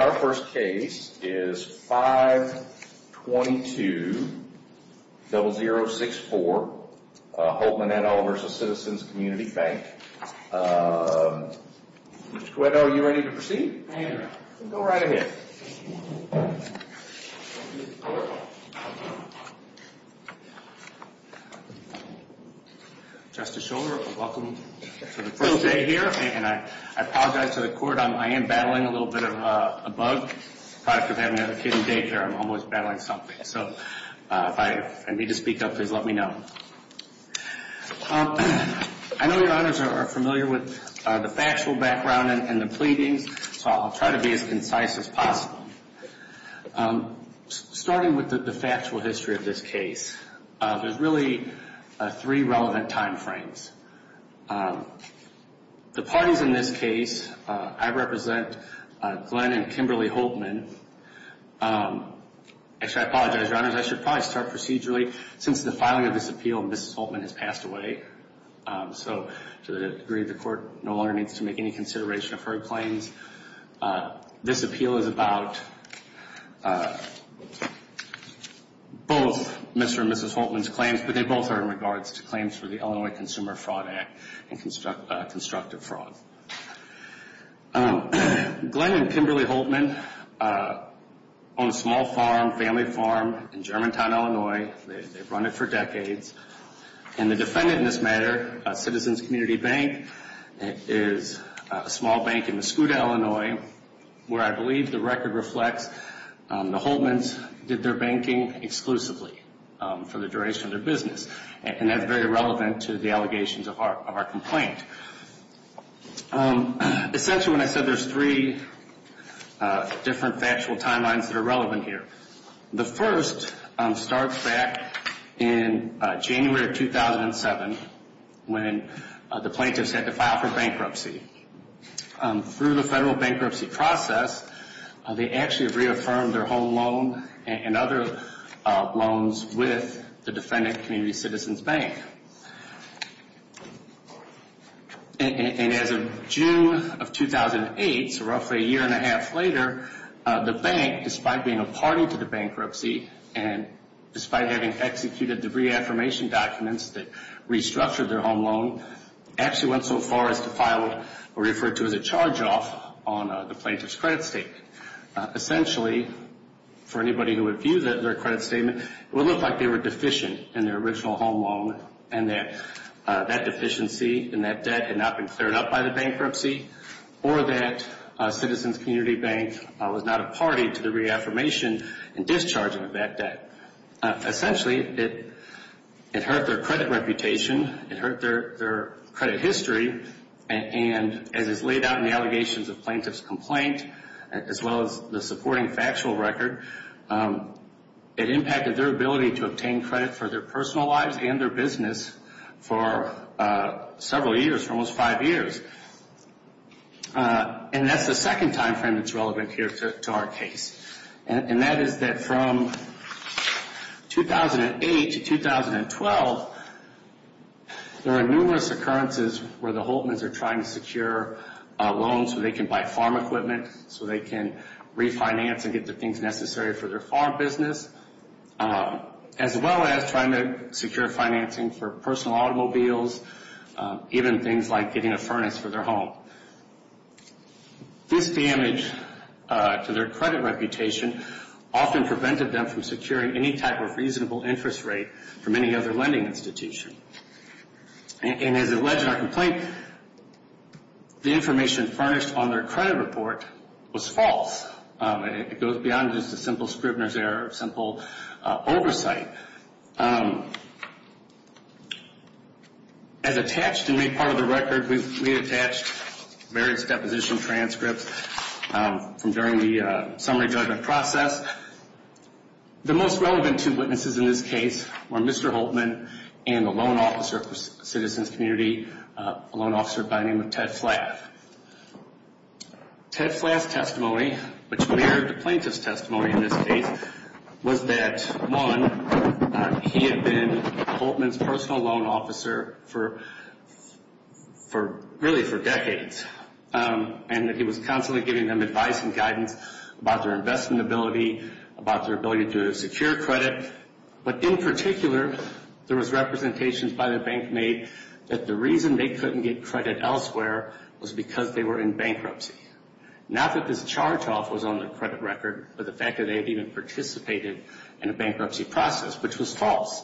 Our first case is 522-0064, Holtmann v. Citizens Community Bank. Mr. Coedo, are you ready to proceed? I am. Go right ahead. Justice Schor, welcome to the first day here. And I apologize to the court, I am battling a little bit of a bug. The product of having a kid in daycare, I'm almost battling something. So if I need to speak up, please let me know. I know your honors are familiar with the factual background and the pleadings, so I'll try to be as concise as possible. Starting with the factual history of this case, there's really three relevant time frames. The parties in this case, I represent Glenn and Kimberly Holtmann. Actually, I apologize, your honors, I should probably start procedurally. Since the filing of this appeal, Mrs. Holtmann has passed away, so to the degree of the court, no longer needs to make any consideration of her claims. This appeal is about both Mr. and Mrs. Holtmann's claims, but they both are in regards to claims for the Illinois Consumer Fraud Act and constructive fraud. Glenn and Kimberly Holtmann own a small farm, family farm in Germantown, Illinois. They've run it for decades. And the defendant in this matter, Citizens Community Bank, is a small bank in Mesquota, Illinois, where I believe the record reflects the Holtmanns did their banking exclusively for the duration of their business. And that's very relevant to the allegations of our complaint. Essentially, when I said there's three different factual timelines that are relevant here, the first starts back in January of 2007 when the plaintiffs had to file for bankruptcy. Through the federal bankruptcy process, they actually reaffirmed their home loan and other loans with the defendant, Community Citizens Bank. And as of June of 2008, so roughly a year and a half later, the bank, despite being a party to the bankruptcy and despite having executed the reaffirmation documents that restructured their home loan, actually went so far as to file what we refer to as a charge-off on the plaintiff's credit statement. Essentially, for anybody who would view their credit statement, it would look like they were deficient in their original home loan and that that deficiency and that debt had not been cleared up by the bankruptcy or that Citizens Community Bank was not a party to the reaffirmation and discharging of that debt. Essentially, it hurt their credit reputation. It hurt their credit history. And as is laid out in the allegations of plaintiff's complaint, as well as the supporting factual record, it impacted their ability to obtain credit for their personal lives and their business for several years, for almost five years. And that's the second time frame that's relevant here to our case. And that is that from 2008 to 2012, there are numerous occurrences where the Holtmans are trying to secure loans so they can buy farm equipment, so they can refinance and get the things necessary for their farm business, as well as trying to secure financing for personal automobiles, even things like getting a furnace for their home. This damage to their credit reputation often prevented them from securing any type of reasonable interest rate from any other lending institution. And as alleged in our complaint, the information furnished on their credit report was false. It goes beyond just a simple scrivener's error, a simple oversight. As attached and made part of the record, we attached various deposition transcripts from during the summary judgment process. The most relevant two witnesses in this case were Mr. Holtman and a loan officer for Citizens Community, a loan officer by the name of Ted Flath. Ted Flath's testimony, which mirrored the plaintiff's testimony in this case, was that, one, he had been Holtman's personal loan officer really for decades, and that he was constantly giving them advice and guidance about their investment ability, about their ability to secure credit. But in particular, there was representations by the bank made that the reason they couldn't get credit elsewhere was because they were in bankruptcy. Not that this charge-off was on their credit record, but the fact that they had even participated in a bankruptcy process, which was false.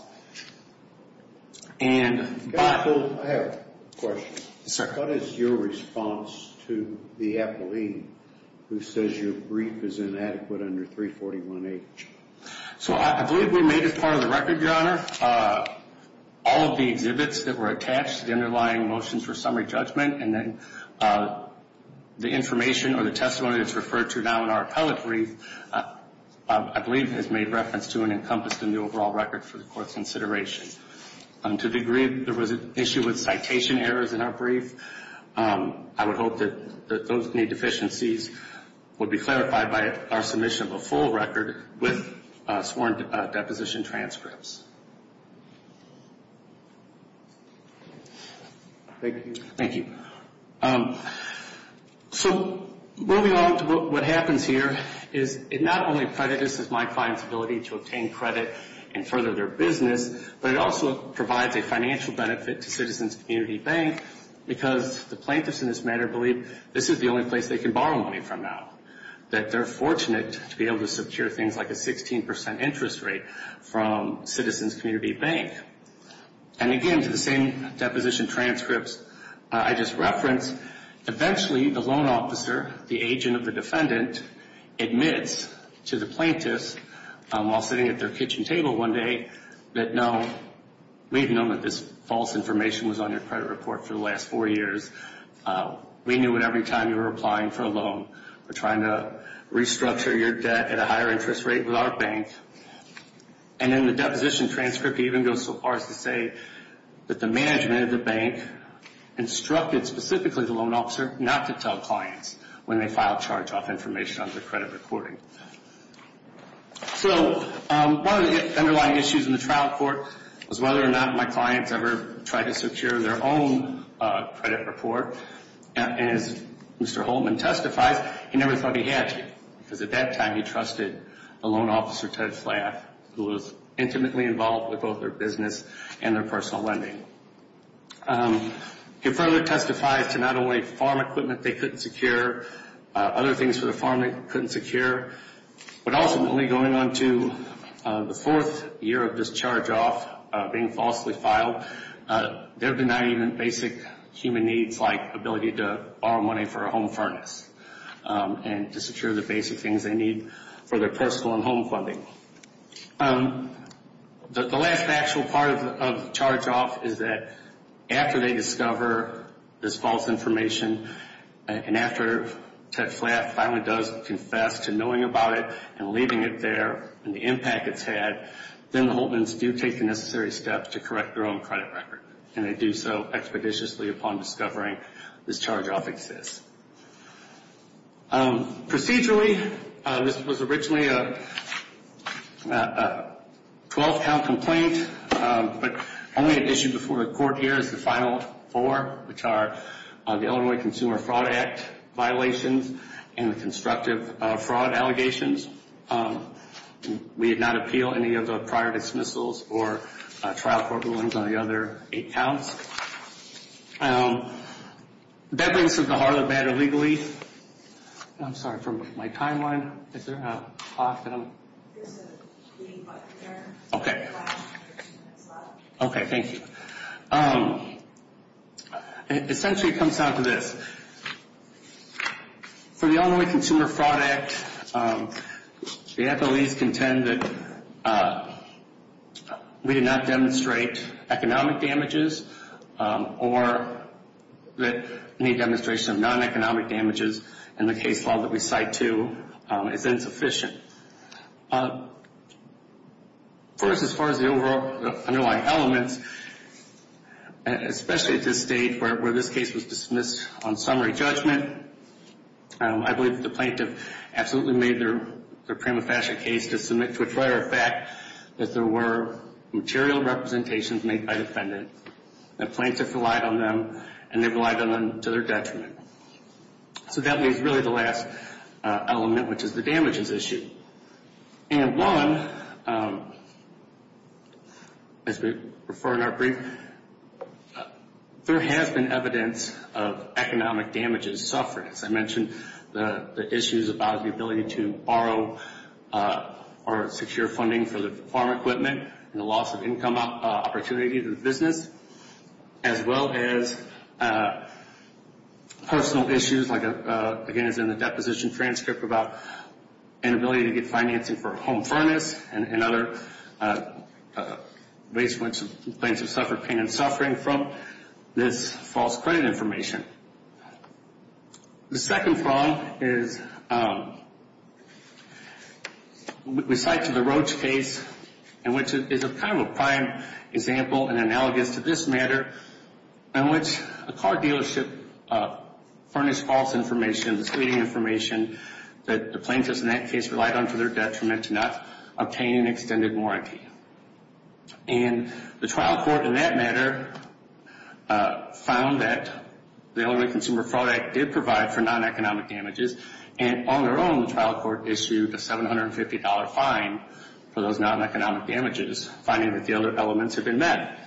And but... I have a question. Yes, sir. What is your response to the appellee who says your brief is inadequate under 341H? So I believe we made it part of the record, Your Honor. All of the exhibits that were attached to the underlying motions for summary judgment and then the information or the testimony that's referred to now in our appellate brief, I believe has made reference to and encompassed in the overall record for the Court's consideration. To the degree there was an issue with citation errors in our brief, I would hope that those need deficiencies would be clarified by our submission of a full record with sworn deposition transcripts. Thank you. Thank you. So moving on to what happens here is it not only credited my client's ability to obtain credit and further their business, but it also provides a financial benefit to Citizens Community Bank because the plaintiffs in this matter believe this is the only place they can borrow money from now, that they're fortunate to be able to secure things like a 16% interest rate from Citizens Community Bank. And again, to the same deposition transcripts I just referenced, eventually the loan officer, the agent of the defendant, admits to the plaintiffs while sitting at their kitchen table one day that, no, we've known that this false information was on your credit report for the last four years. We knew it every time you were applying for a loan. We're trying to restructure your debt at a higher interest rate with our bank. And then the deposition transcript even goes so far as to say that the management of the bank instructed specifically the loan officer not to tell clients when they file charge-off information on their credit reporting. So one of the underlying issues in the trial court was whether or not my clients ever tried to secure their own credit report. And as Mr. Holman testifies, he never thought he had to because at that time he trusted the loan officer, Ted Flath, who was intimately involved with both their business and their personal lending. He further testified to not only farm equipment they couldn't secure, other things for the farm they couldn't secure, but ultimately going on to the fourth year of this charge-off being falsely filed, they're denied even basic human needs like ability to borrow money for a home furnace and to secure the basic things they need for their personal and home funding. The last actual part of charge-off is that after they discover this false information and after Ted Flath finally does confess to knowing about it and leaving it there and the impact it's had, then the Holtmans do take the necessary steps to correct their own credit record. And they do so expeditiously upon discovering this charge-off exists. Procedurally, this was originally a 12-count complaint, but only an issue before the court here is the final four, which are the Illinois Consumer Fraud Act violations and the constructive fraud allegations. We did not appeal any of the prior dismissals or trial court rulings on the other eight counts. That brings us to the Harlem matter legally. I'm sorry, from my timeline, is there a clock that I'm? There's a key up there. Okay. On the left. Okay, thank you. Essentially, it comes down to this. For the Illinois Consumer Fraud Act, the FLEs contend that we did not demonstrate economic damages or that any demonstration of non-economic damages in the case law that we cite to is insufficient. First, as far as the overall underlying elements, especially at this stage where this case was dismissed on summary judgment, I believe that the plaintiff absolutely made their prima facie case to submit to a prior fact that there were material representations made by the defendant. The plaintiff relied on them, and they relied on them to their detriment. That leaves really the last element, which is the damages issue. One, as we refer in our brief, there has been evidence of economic damages, sufferance. I mentioned the issues about the ability to borrow or secure funding for the farm equipment and the loss of income opportunity to the business, as well as personal issues, like, again, as in the deposition transcript, about inability to get financing for a home furnace and other ways in which the plaintiff suffered pain and suffering from this false credit information. The second prong is, we cite to the Roach case, and which is kind of a prime example and analogous to this matter, in which a car dealership furnished false information, misleading information, that the plaintiffs in that case relied on to their detriment to not obtain an extended warranty. And the trial court in that matter found that the Illinois Consumer Fraud Act did provide for non-economic damages, and on their own, the trial court issued a $750 fine for those non-economic damages, finding that the other elements had been met.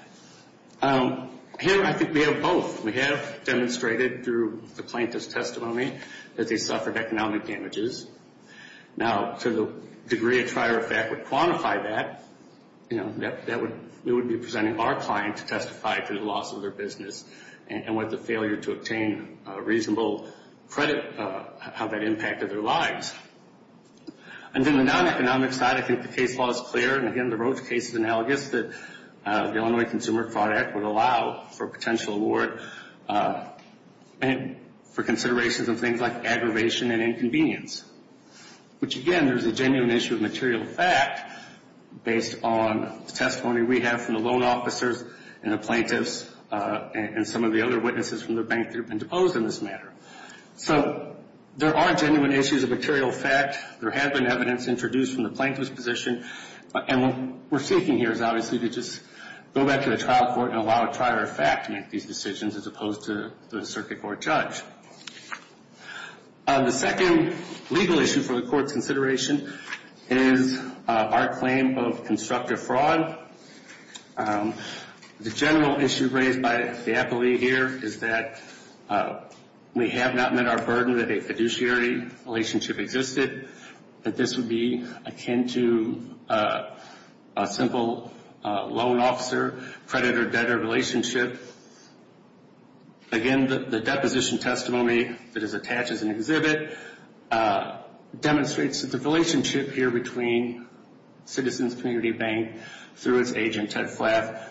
Here, I think we have both. We have demonstrated through the plaintiff's testimony that they suffered economic damages. Now, to the degree a trier of fact would quantify that, we would be presenting our client to testify to the loss of their business and with the failure to obtain reasonable credit, how that impacted their lives. And then the non-economic side, I think the case law is clear, and again, the Roach case is analogous that the Illinois Consumer Fraud Act would allow for potential award for considerations of things like aggravation and inconvenience, which again, there's a genuine issue of material fact based on the testimony we have from the loan officers and the plaintiffs and some of the other witnesses from the bank that have been deposed in this matter. So there are genuine issues of material fact. There has been evidence introduced from the plaintiff's position, and what we're seeking here is obviously to just go back to the trial court and allow a trier of fact to make these decisions as opposed to the circuit court judge. The second legal issue for the court's consideration is our claim of constructive fraud. The general issue raised by the appellee here is that we have not met our burden that a fiduciary relationship existed, that this would be akin to a simple loan officer-creditor-debtor relationship. Again, the deposition testimony that is attached as an exhibit demonstrates that the relationship here between Citizens Community Bank through its agent, Ted Flath,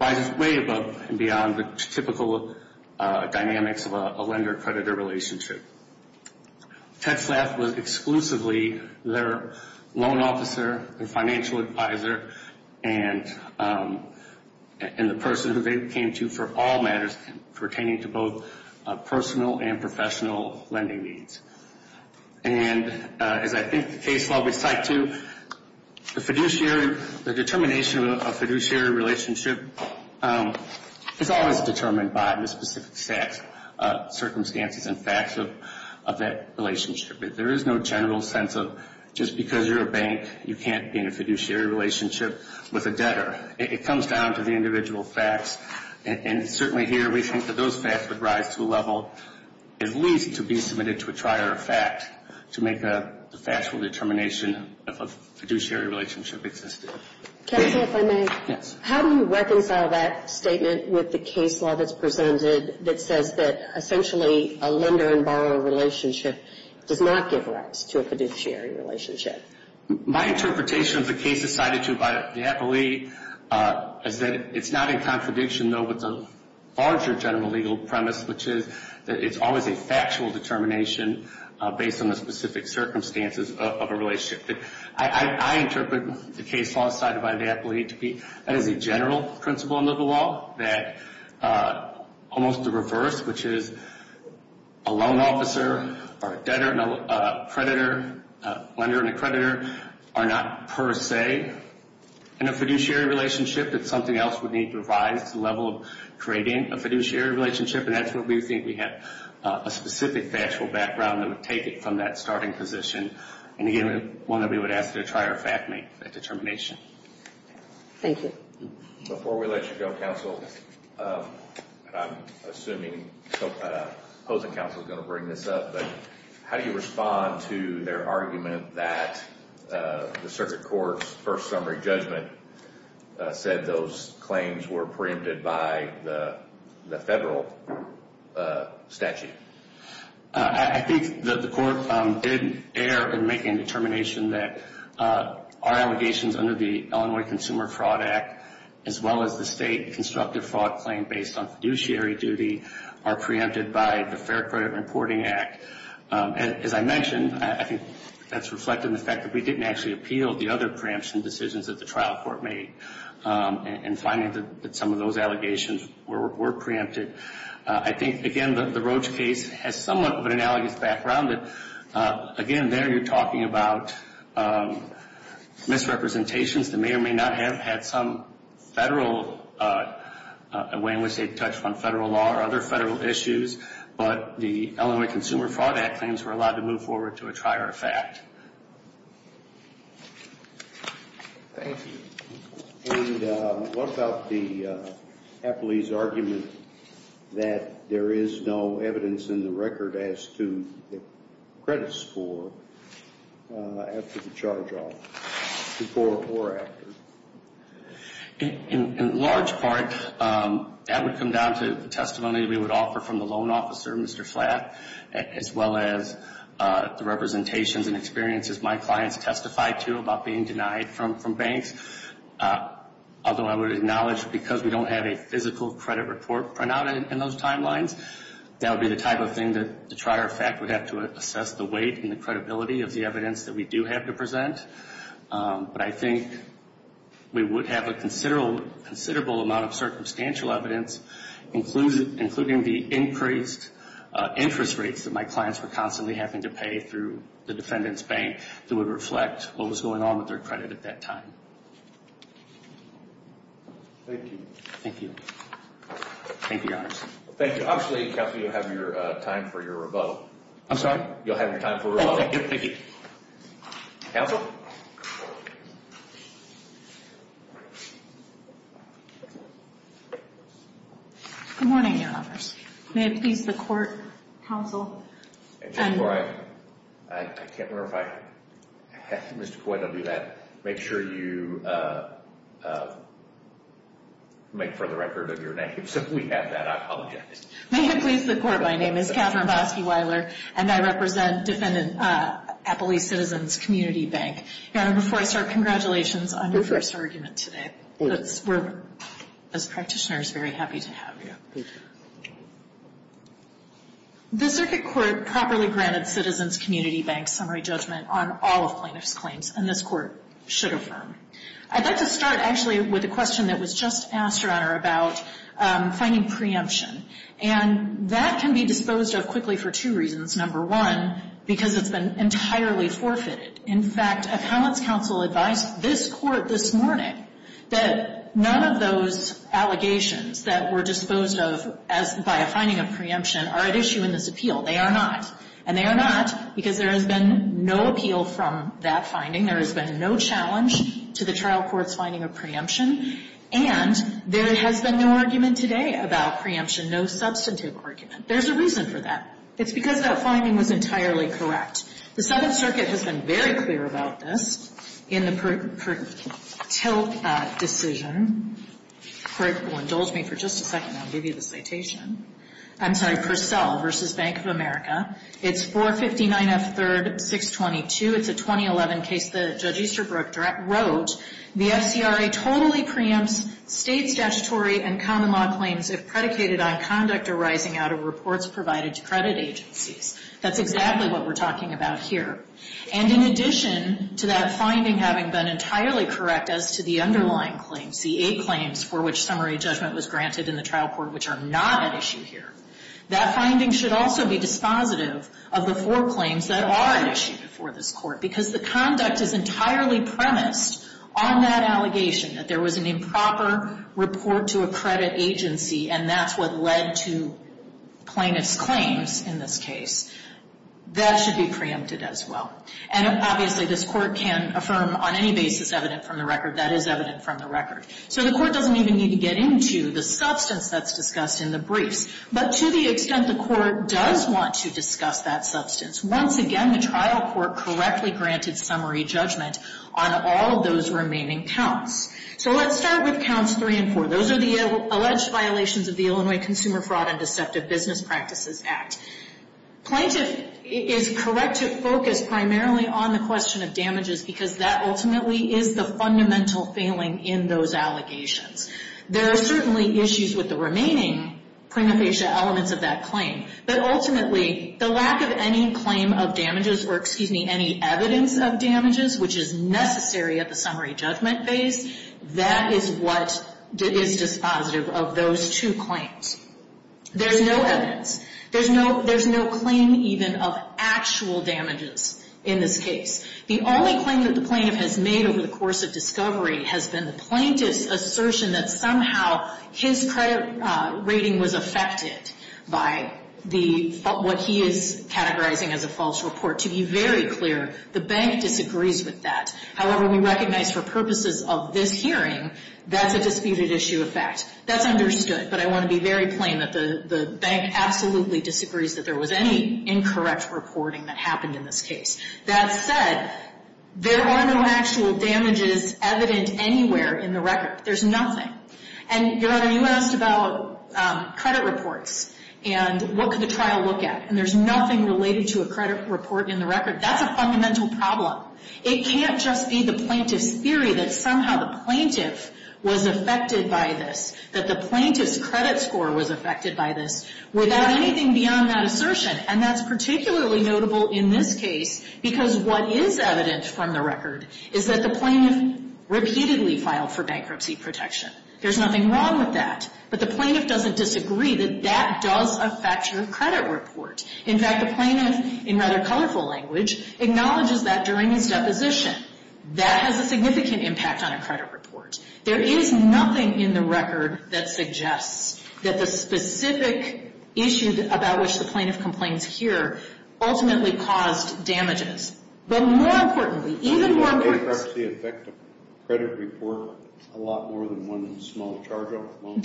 rises way above and beyond the typical dynamics of a lender-creditor relationship. Ted Flath was exclusively their loan officer, their financial advisor, and the person who they came to for all matters pertaining to both personal and professional lending needs. And as I think the case law would cite to, the determination of a fiduciary relationship is always determined by the specific circumstances and facts of that relationship. There is no general sense of just because you're a bank, you can't be in a fiduciary relationship with a debtor. It comes down to the individual facts, and certainly here we think that those facts would rise to a level at least to be submitted to a trier of fact to make a factual determination of a fiduciary relationship existed. Can I say if I may? Yes. How do you reconcile that statement with the case law that's presented that says that essentially a lender and borrower relationship does not give rise to a fiduciary relationship? My interpretation of the case as cited to by the FOA is that it's not in contradiction, though, with the larger general legal premise, which is that it's always a factual determination based on the specific circumstances of a relationship. I interpret the case law cited by the FOA to be as a general principle in legal law, that almost the reverse, which is a loan officer or a debtor and a creditor, a lender and a creditor, are not per se in a fiduciary relationship. It's something else we need to revise to the level of creating a fiduciary relationship, and that's where we think we have a specific factual background that would take it from that starting position. And, again, one that we would ask to try or fact make that determination. Thank you. Before we let you go, counsel, I'm assuming opposing counsel is going to bring this up, but how do you respond to their argument that the circuit court's first summary judgment said those claims were preempted by the federal statute? I think that the court did err in making a determination that our allegations under the Illinois Consumer Fraud Act, as well as the state constructive fraud claim based on fiduciary duty, are preempted by the Fair Credit Reporting Act. As I mentioned, I think that's reflected in the fact that we didn't actually appeal the other preemption decisions that the trial court made in finding that some of those allegations were preempted. I think, again, the Roach case has somewhat of an analogous background. Again, there you're talking about misrepresentations that may or may not have had some federal, a way in which they've touched on federal law or other federal issues, but the Illinois Consumer Fraud Act claims were allowed to move forward to a try or a fact. Thank you. And what about the Apley's argument that there is no evidence in the record as to the credit score after the charge-off, before or after? In large part, that would come down to the testimony we would offer from the loan officer, Mr. Flatt, as well as the representations and experiences my clients testified to about being denied from banks. Although I would acknowledge because we don't have a physical credit report printed out in those timelines, that would be the type of thing that the try or fact would have to assess the weight and the credibility of the evidence that we do have to present. But I think we would have a considerable amount of circumstantial evidence, including the increased interest rates that my clients were constantly having to pay through the defendant's bank that would reflect what was going on with their credit at that time. Thank you. Thank you. Thank you, Your Honor. Thank you. Obviously, Counsel, you have your time for your rebuttal. I'm sorry? You'll have your time for rebuttal. Oh, thank you. Counsel? Good morning, Your Honors. May it please the Court, Counsel. And just before I – I can't remember if I – Mr. Coyne will do that. Make sure you make for the record of your name so we have that. I apologize. May it please the Court, my name is Katherine Bosky-Weiler, and I represent Appalachian Citizens Community Bank. Your Honor, before I start, congratulations on your first argument today. Thank you. We're, as practitioners, very happy to have you. Thank you. The Circuit Court properly granted Citizens Community Bank summary judgment on all of plaintiff's claims, and this Court should affirm. I'd like to start, actually, with a question that was just asked, Your Honor, about finding preemption. And that can be disposed of quickly for two reasons. Number one, because it's been entirely forfeited. In fact, Appellant's counsel advised this Court this morning that none of those allegations that were disposed of as – by a finding of preemption are at issue in this appeal. They are not. And they are not because there has been no appeal from that finding. There has been no challenge to the trial court's finding of preemption. And there has been no argument today about preemption, no substantive argument. There's a reason for that. It's because that finding was entirely correct. The Second Circuit has been very clear about this in the Perttilt decision. If you'll indulge me for just a second, I'll give you the citation. I'm sorry, Purcell v. Bank of America. It's 459F3-622. It's a 2011 case that Judge Easterbrook wrote. The FCRA totally preempts State statutory and common law claims if predicated on conduct arising out of reports provided to credit agencies. That's exactly what we're talking about here. And in addition to that finding having been entirely correct as to the underlying claims, the eight claims for which summary judgment was granted in the trial court which are not at issue here, that finding should also be dispositive of the four claims that are at issue before this Court. Because the conduct is entirely premised on that allegation, that there was an improper report to a credit agency and that's what led to plaintiff's claims in this case, that should be preempted as well. And obviously this Court can affirm on any basis evident from the record that is evident from the record. So the Court doesn't even need to get into the substance that's discussed in the briefs. But to the extent the Court does want to discuss that substance, once again, the trial court correctly granted summary judgment on all of those remaining counts. So let's start with counts three and four. Those are the alleged violations of the Illinois Consumer Fraud and Deceptive Business Practices Act. Plaintiff is correct to focus primarily on the question of damages because that ultimately is the fundamental failing in those allegations. There are certainly issues with the remaining prima facie elements of that claim. But ultimately, the lack of any claim of damages or, excuse me, any evidence of damage, that is what is dispositive of those two claims. There's no evidence. There's no claim even of actual damages in this case. The only claim that the plaintiff has made over the course of discovery has been the plaintiff's assertion that somehow his credit rating was affected by what he is categorizing as a false report. To be very clear, the bank disagrees with that. However, we recognize for purposes of this hearing, that's a disputed issue of fact. That's understood. But I want to be very plain that the bank absolutely disagrees that there was any incorrect reporting that happened in this case. That said, there are no actual damages evident anywhere in the record. There's nothing. And, Your Honor, you asked about credit reports and what could the trial look at. And there's nothing related to a credit report in the record. That's a fundamental problem. It can't just be the plaintiff's theory that somehow the plaintiff was affected by this, that the plaintiff's credit score was affected by this, without anything beyond that assertion. And that's particularly notable in this case because what is evident from the record is that the plaintiff repeatedly filed for bankruptcy protection. There's nothing wrong with that. But the plaintiff doesn't disagree that that does affect your credit report. In fact, the plaintiff, in rather colorful language, acknowledges that during his deposition. That has a significant impact on a credit report. There is nothing in the record that suggests that the specific issue about which the plaintiff complains here ultimately caused damages. But more importantly, even more importantly — I mean, would bankruptcy affect a credit report a lot more than one small charge-off loan?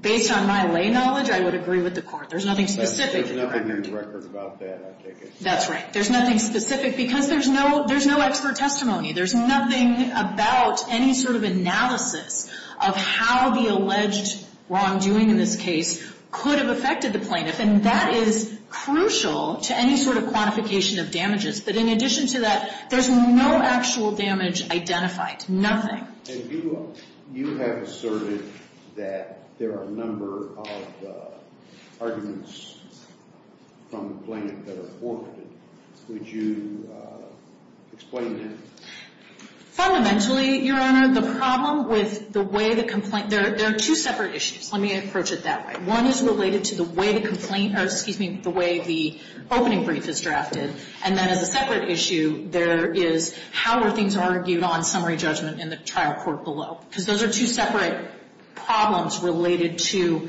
Based on my lay knowledge, I would agree with the Court. There's nothing specific. There's nothing in the record about that, I take it? That's right. There's nothing specific because there's no expert testimony. There's nothing about any sort of analysis of how the alleged wrongdoing in this case could have affected the plaintiff. And that is crucial to any sort of quantification of damages. But in addition to that, there's no actual damage identified. Nothing. And you have asserted that there are a number of arguments from the plaintiff that are forfeited. Would you explain that? Fundamentally, Your Honor, the problem with the way the complaint — there are two separate issues. Let me approach it that way. One is related to the way the complaint — or, excuse me, the way the opening brief is drafted. And then as a separate issue, there is how were things argued on summary judgment in the trial court below. Because those are two separate problems related to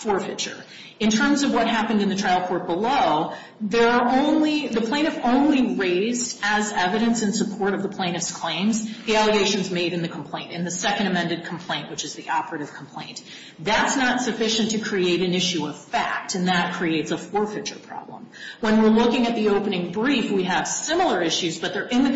forfeiture. In terms of what happened in the trial court below, there are only — the plaintiff only raised as evidence in support of the plaintiff's claims the allegations made in the complaint, in the second amended complaint, which is the operative complaint. That's not sufficient to create an issue of fact, and that creates a forfeiture problem. When we're looking at the opening brief, we have similar issues, but they're in the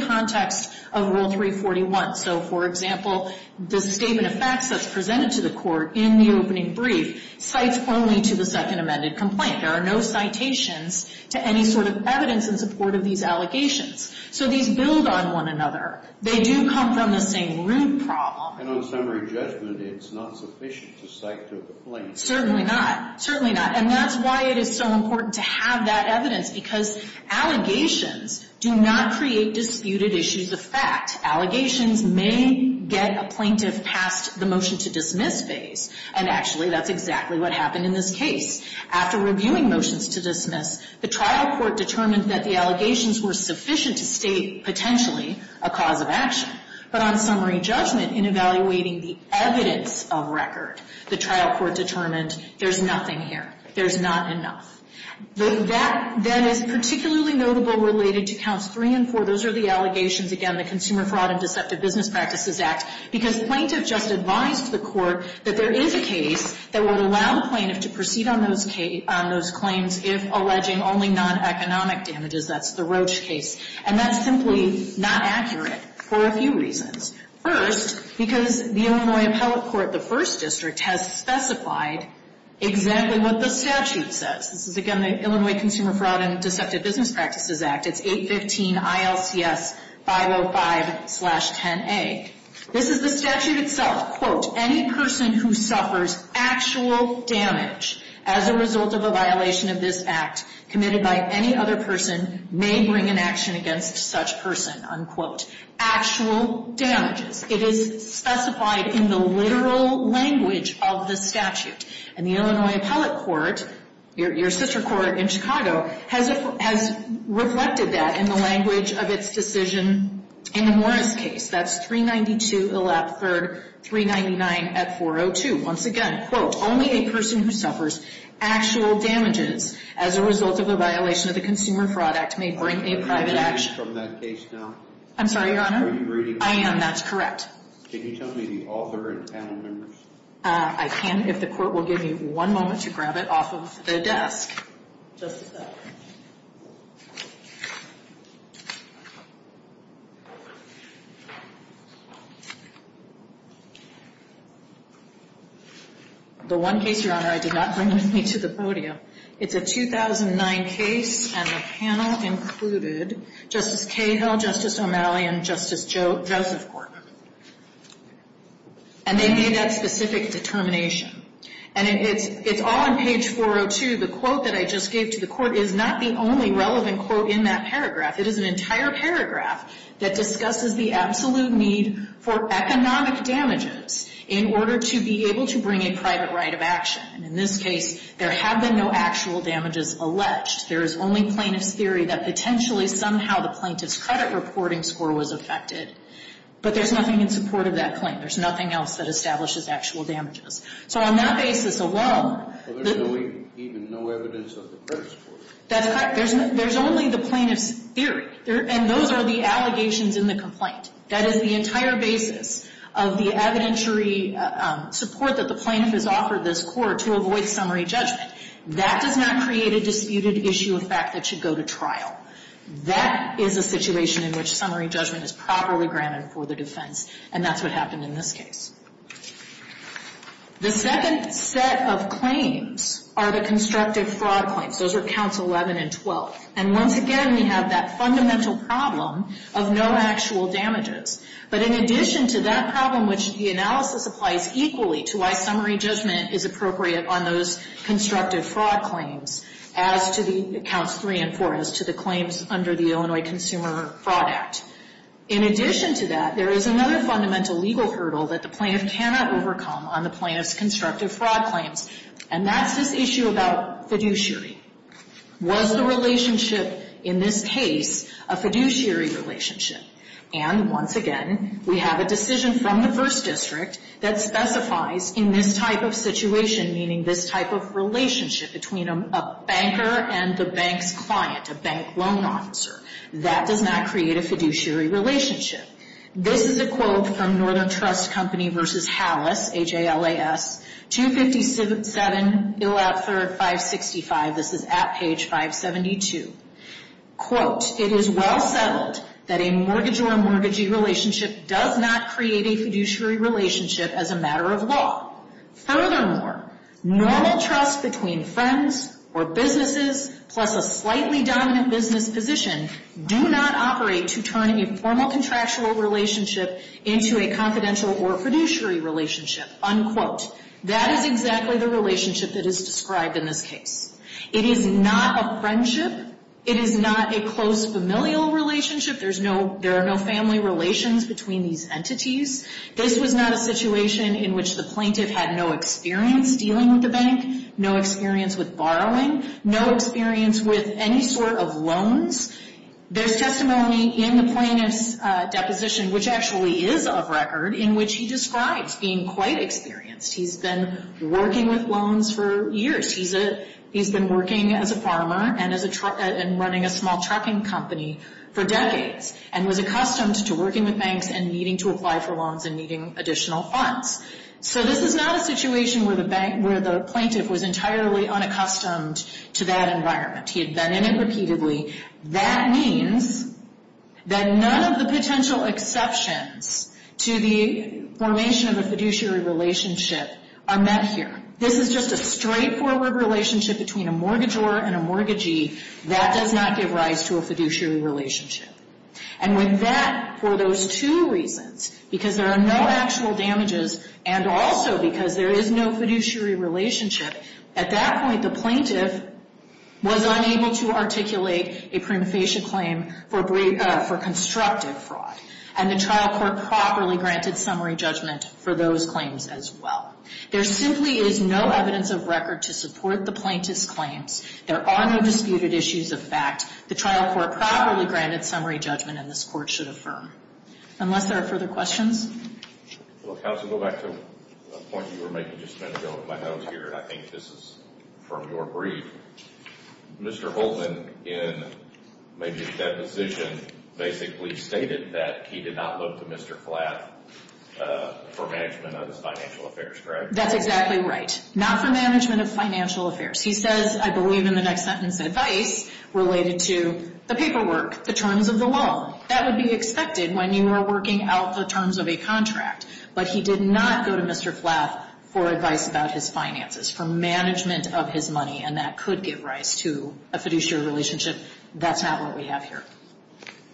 So, for example, the statement of facts that's presented to the court in the opening brief cites only to the second amended complaint. There are no citations to any sort of evidence in support of these allegations. So these build on one another. They do come from the same root problem. And on summary judgment, it's not sufficient to cite to the plaintiff. Certainly not. Certainly not. And that's why it is so important to have that evidence, because allegations do not create disputed issues of fact. Allegations may get a plaintiff past the motion to dismiss phase, and actually that's exactly what happened in this case. After reviewing motions to dismiss, the trial court determined that the allegations were sufficient to state potentially a cause of action. But on summary judgment, in evaluating the evidence of record, the trial court determined there's nothing here. There's not enough. That then is particularly notable related to counts three and four. Those are the allegations. Again, the Consumer Fraud and Deceptive Business Practices Act. Because plaintiff just advised the court that there is a case that would allow the plaintiff to proceed on those claims if alleging only non-economic damages. That's the Roach case. And that's simply not accurate for a few reasons. First, because the Illinois Appellate Court, the first district, has specified exactly what the statute says. This is, again, the Illinois Consumer Fraud and Deceptive Business Practices Act. It's 815 ILCS 505-10A. This is the statute itself. Quote, any person who suffers actual damage as a result of a violation of this act committed by any other person may bring an action against such person. Unquote. Actual damages. It is specified in the literal language of the statute. And the Illinois Appellate Court, your sister court in Chicago, has reflected that in the language of its decision in the Morris case. That's 392 Illap 3rd, 399 at 402. Once again, quote, only a person who suffers actual damages as a result of a violation of the Consumer Fraud Act may bring a private action. Are you reading from that case now? I'm sorry, Your Honor? Are you reading? I am. That's correct. Can you tell me the author and panel members? I can if the court will give me one moment to grab it off of the desk. Just a second. The one case, Your Honor, I did not bring with me to the podium. It's a 2009 case, and the panel included Justice Cahill, Justice O'Malley, and Justice Joseph Court. And they made that specific determination. And it's all on page 402. The quote that I just gave to the court is not the only relevant quote in that paragraph. It is an entire paragraph that discusses the absolute need for economic damages in order to be able to bring a private right of action. In this case, there have been no actual damages alleged. There is only plaintiff's theory that potentially somehow the plaintiff's credit reporting score was affected. But there's nothing in support of that claim. There's nothing else that establishes actual damages. So on that basis alone. There's even no evidence of the credit score. That's correct. There's only the plaintiff's theory. And those are the allegations in the complaint. That is the entire basis of the evidentiary support that the plaintiff has offered this court to avoid summary judgment. That does not create a disputed issue of fact that should go to trial. That is a situation in which summary judgment is properly granted for the defense. And that's what happened in this case. The second set of claims are the constructive fraud claims. Those are counts 11 and 12. And once again, we have that fundamental problem of no actual damages. But in addition to that problem, which the analysis applies equally to why summary judgment is appropriate on those constructive fraud claims as to the counts 3 and 4 as to the claims under the Illinois Consumer Fraud Act. In addition to that, there is another fundamental legal hurdle that the plaintiff cannot overcome on the plaintiff's constructive fraud claims. And that's this issue about fiduciary. Was the relationship in this case a fiduciary relationship? And once again, we have a decision from the first district that specifies in this type of situation, meaning this type of relationship between a banker and the bank's client, a bank loan officer. That does not create a fiduciary relationship. This is a quote from Northern Trust Company v. HALAS, H-A-L-A-S, 257-565. This is at page 572. Quote, it is well settled that a mortgage or a mortgagee relationship does not Furthermore, normal trust between friends or businesses plus a slightly dominant business position do not operate to turn a formal contractual relationship into a confidential or fiduciary relationship, unquote. That is exactly the relationship that is described in this case. It is not a friendship. It is not a close familial relationship. There are no family relations between these entities. This was not a situation in which the plaintiff had no experience dealing with the bank, no experience with borrowing, no experience with any sort of loans. There's testimony in the plaintiff's deposition, which actually is of record, in which he describes being quite experienced. He's been working with loans for years. He's been working as a farmer and running a small trucking company for decades and was accustomed to working with banks and needing to apply for loans and needing additional funds. So this is not a situation where the plaintiff was entirely unaccustomed to that environment. He had been in it repeatedly. That means that none of the potential exceptions to the formation of a fiduciary relationship are met here. This is just a straightforward relationship between a mortgagor and a mortgagee. That does not give rise to a fiduciary relationship. And with that, for those two reasons, because there are no actual damages and also because there is no fiduciary relationship, at that point, the plaintiff was unable to articulate a prima facie claim for constructive fraud. And the trial court properly granted summary judgment for those claims as well. There simply is no evidence of record to support the plaintiff's claims. There are no disputed issues of fact. The trial court properly granted summary judgment, and this court should affirm. Unless there are further questions. Counsel, go back to a point you were making just a minute ago. I think this is from your brief. Mr. Holtman, in maybe a deposition, basically stated that he did not look to Mr. Flatt for management of his financial affairs, correct? That's exactly right. Not for management of financial affairs. He says, I believe in the next sentence, advice related to the paperwork, the terms of the loan. That would be expected when you were working out the terms of a contract. But he did not go to Mr. Flatt for advice about his finances, for management of his money, and that could give rise to a fiduciary relationship. That's not what we have here.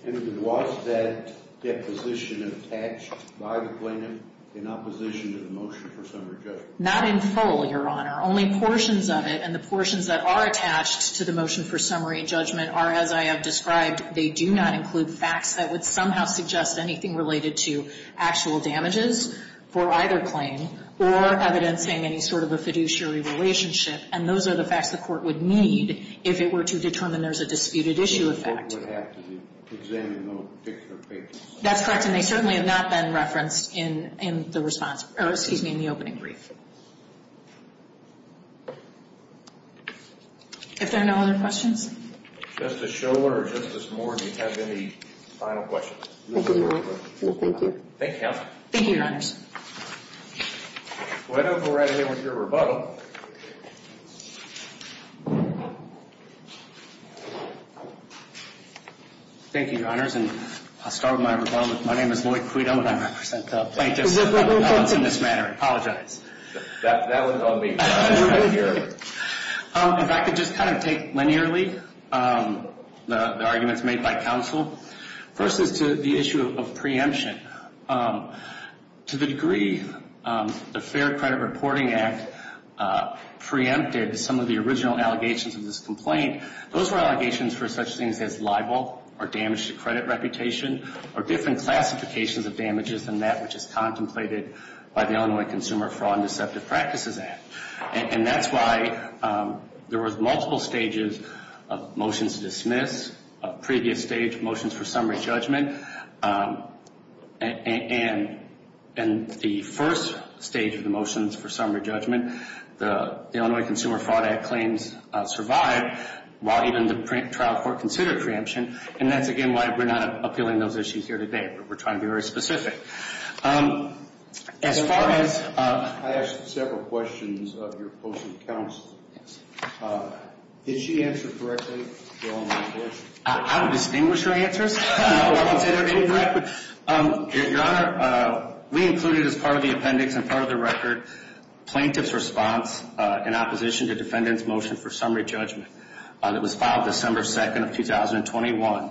And was that deposition attached by the plaintiff in opposition to the motion for summary judgment? Not in full, Your Honor. Only portions of it. And the portions that are attached to the motion for summary judgment are, as I have described, they do not include facts that would somehow suggest anything related to actual damages for either claim or evidencing any sort of a fiduciary relationship. And those are the facts the court would need if it were to determine there's a disputed issue effect. The court would have to examine those particular cases. That's correct. And they certainly have not been referenced in the response, or excuse me, in the opening brief. If there are no other questions. Justice Schorler or Justice Moore, do you have any final questions? No, thank you. Thank you, Counsel. Thank you, Your Honors. Why don't we go right ahead with your rebuttal. Thank you, Your Honors. And I'll start with my rebuttal. My name is Lloyd Quito, and I represent the plaintiffs in this matter. I apologize. That was on me. If I could just kind of take linearly the arguments made by counsel. First is to the issue of preemption. To the degree the Fair Credit Reporting Act preempted some of the original allegations of this complaint, those were allegations for such things as libel or damage to credit reputation or different classifications of damages than that which is contemplated by the Illinois Consumer Fraud and Deceptive Practices Act. And that's why there was multiple stages of motions to dismiss, of previous stage motions for summary judgment. And the first stage of the motions for summary judgment, the Illinois Consumer Fraud Act claims survived while even the trial court considered preemption. And that's, again, why we're not appealing those issues here today. We're trying to be very specific. I asked several questions of your opposing counsel. Did she answer correctly? I would distinguish her answers. No, I wouldn't say they were any correct. Your Honor, we included as part of the appendix and part of the record, plaintiff's response in opposition to defendant's motion for summary judgment. It was filed December 2nd of 2021.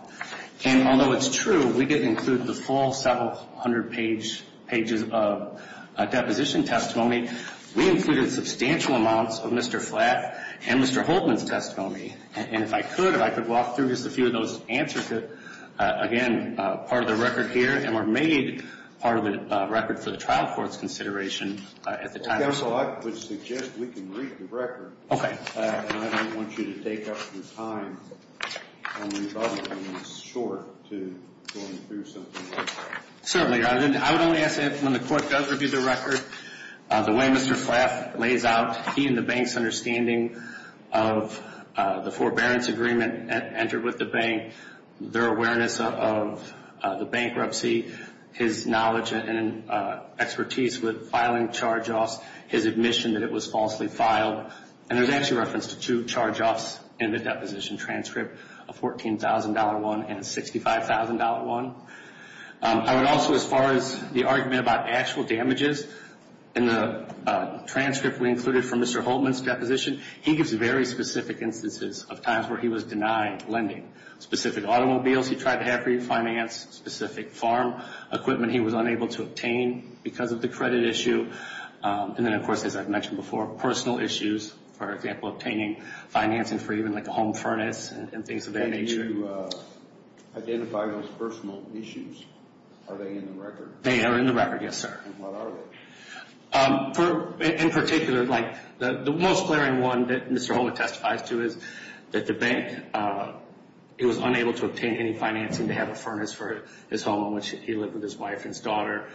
And although it's true we didn't include the full several hundred pages of deposition testimony, we included substantial amounts of Mr. Flatt and Mr. Holtman's testimony. And if I could, if I could walk through just a few of those answers that, again, are part of the record here and were made part of the record for the trial court's consideration at the time. Counsel, I would suggest we can read the record. Okay. And I don't want you to take up your time on these other things. It's short to go through something like that. Certainly. Your Honor, I would only ask that when the court does review the record, the way Mr. Flatt lays out, he and the bank's understanding of the forbearance agreement entered with the bank, their awareness of the bankruptcy, his knowledge and expertise with filing charge-offs, his admission that it was falsely filed. And there's actually reference to two charge-offs in the deposition transcript, a $14,000 one and a $65,000 one. I would also, as far as the argument about actual damages, in the transcript we included from Mr. Holtman's deposition, he gives very specific instances of times where he was denied lending. Specific automobiles he tried to have refinanced, specific farm equipment he was unable to obtain because of the credit issue. And then, of course, as I've mentioned before, personal issues, for example, obtaining financing for even like a home furnace and things of that nature. When you identify those personal issues, are they in the record? They are in the record, yes, sir. And what are they? In particular, like the most glaring one that Mr. Holtman testifies to is that the bank, he was unable to obtain any financing to have a furnace for his home in which he lived with his wife and daughter,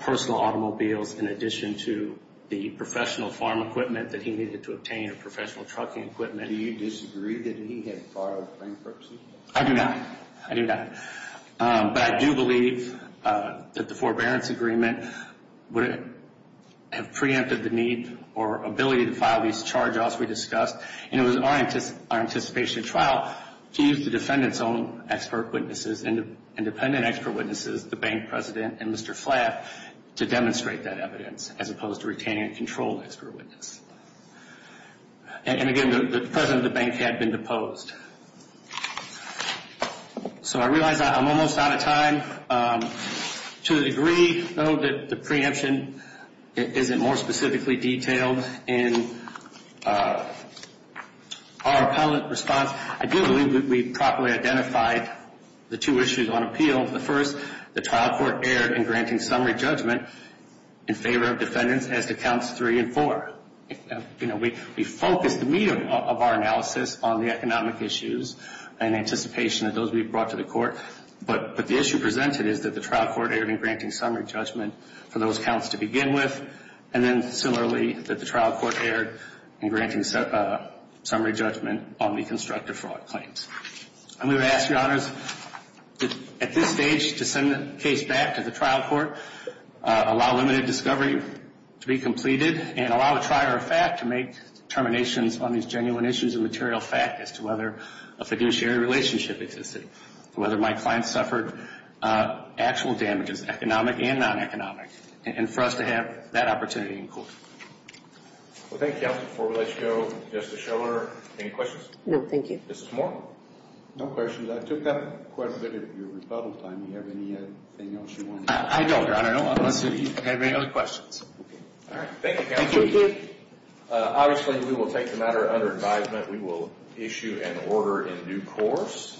personal automobiles in addition to the professional farm equipment that he needed to obtain or professional trucking equipment. Do you disagree that he had borrowed bank proceeds? I do not. I do not. But I do believe that the forbearance agreement would have preempted the need or ability to file these charge-offs we discussed, and it was our anticipation at trial to use the defendant's own expert witnesses and independent expert witnesses, the bank president and Mr. Flapp, to demonstrate that evidence as opposed to retaining a controlled expert witness. And, again, the president of the bank had been deposed. So I realize I'm almost out of time. To the degree, though, that the preemption isn't more specifically detailed in our appellate response, I do believe that we properly identified the two issues on appeal. The first, the trial court erred in granting summary judgment in favor of defendants as to counts three and four. You know, we focused the meat of our analysis on the economic issues and anticipation of those we brought to the court, but the issue presented is that the trial court erred in granting summary judgment for those counts to begin with, and then similarly that the trial court erred in granting summary judgment on the constructive fraud claims. I'm going to ask, Your Honors, at this stage to send the case back to the trial court, allow limited discovery to be completed, and allow the trier of fact to make determinations on these genuine issues of material fact as to whether a fiduciary relationship existed, whether my client suffered actual damages, economic and non-economic, and for us to have that opportunity in court. Well, thank you. Before we let you go, Justice Schiller, any questions? No, thank you. Justice Moore? No questions. I took up quite a bit of your rebuttal time. Do you have anything else you want to add? I don't, Your Honor, unless you have any other questions. All right. Thank you, Counsel. Thank you. Obviously, we will take the matter under advisement. We will issue an order in due course.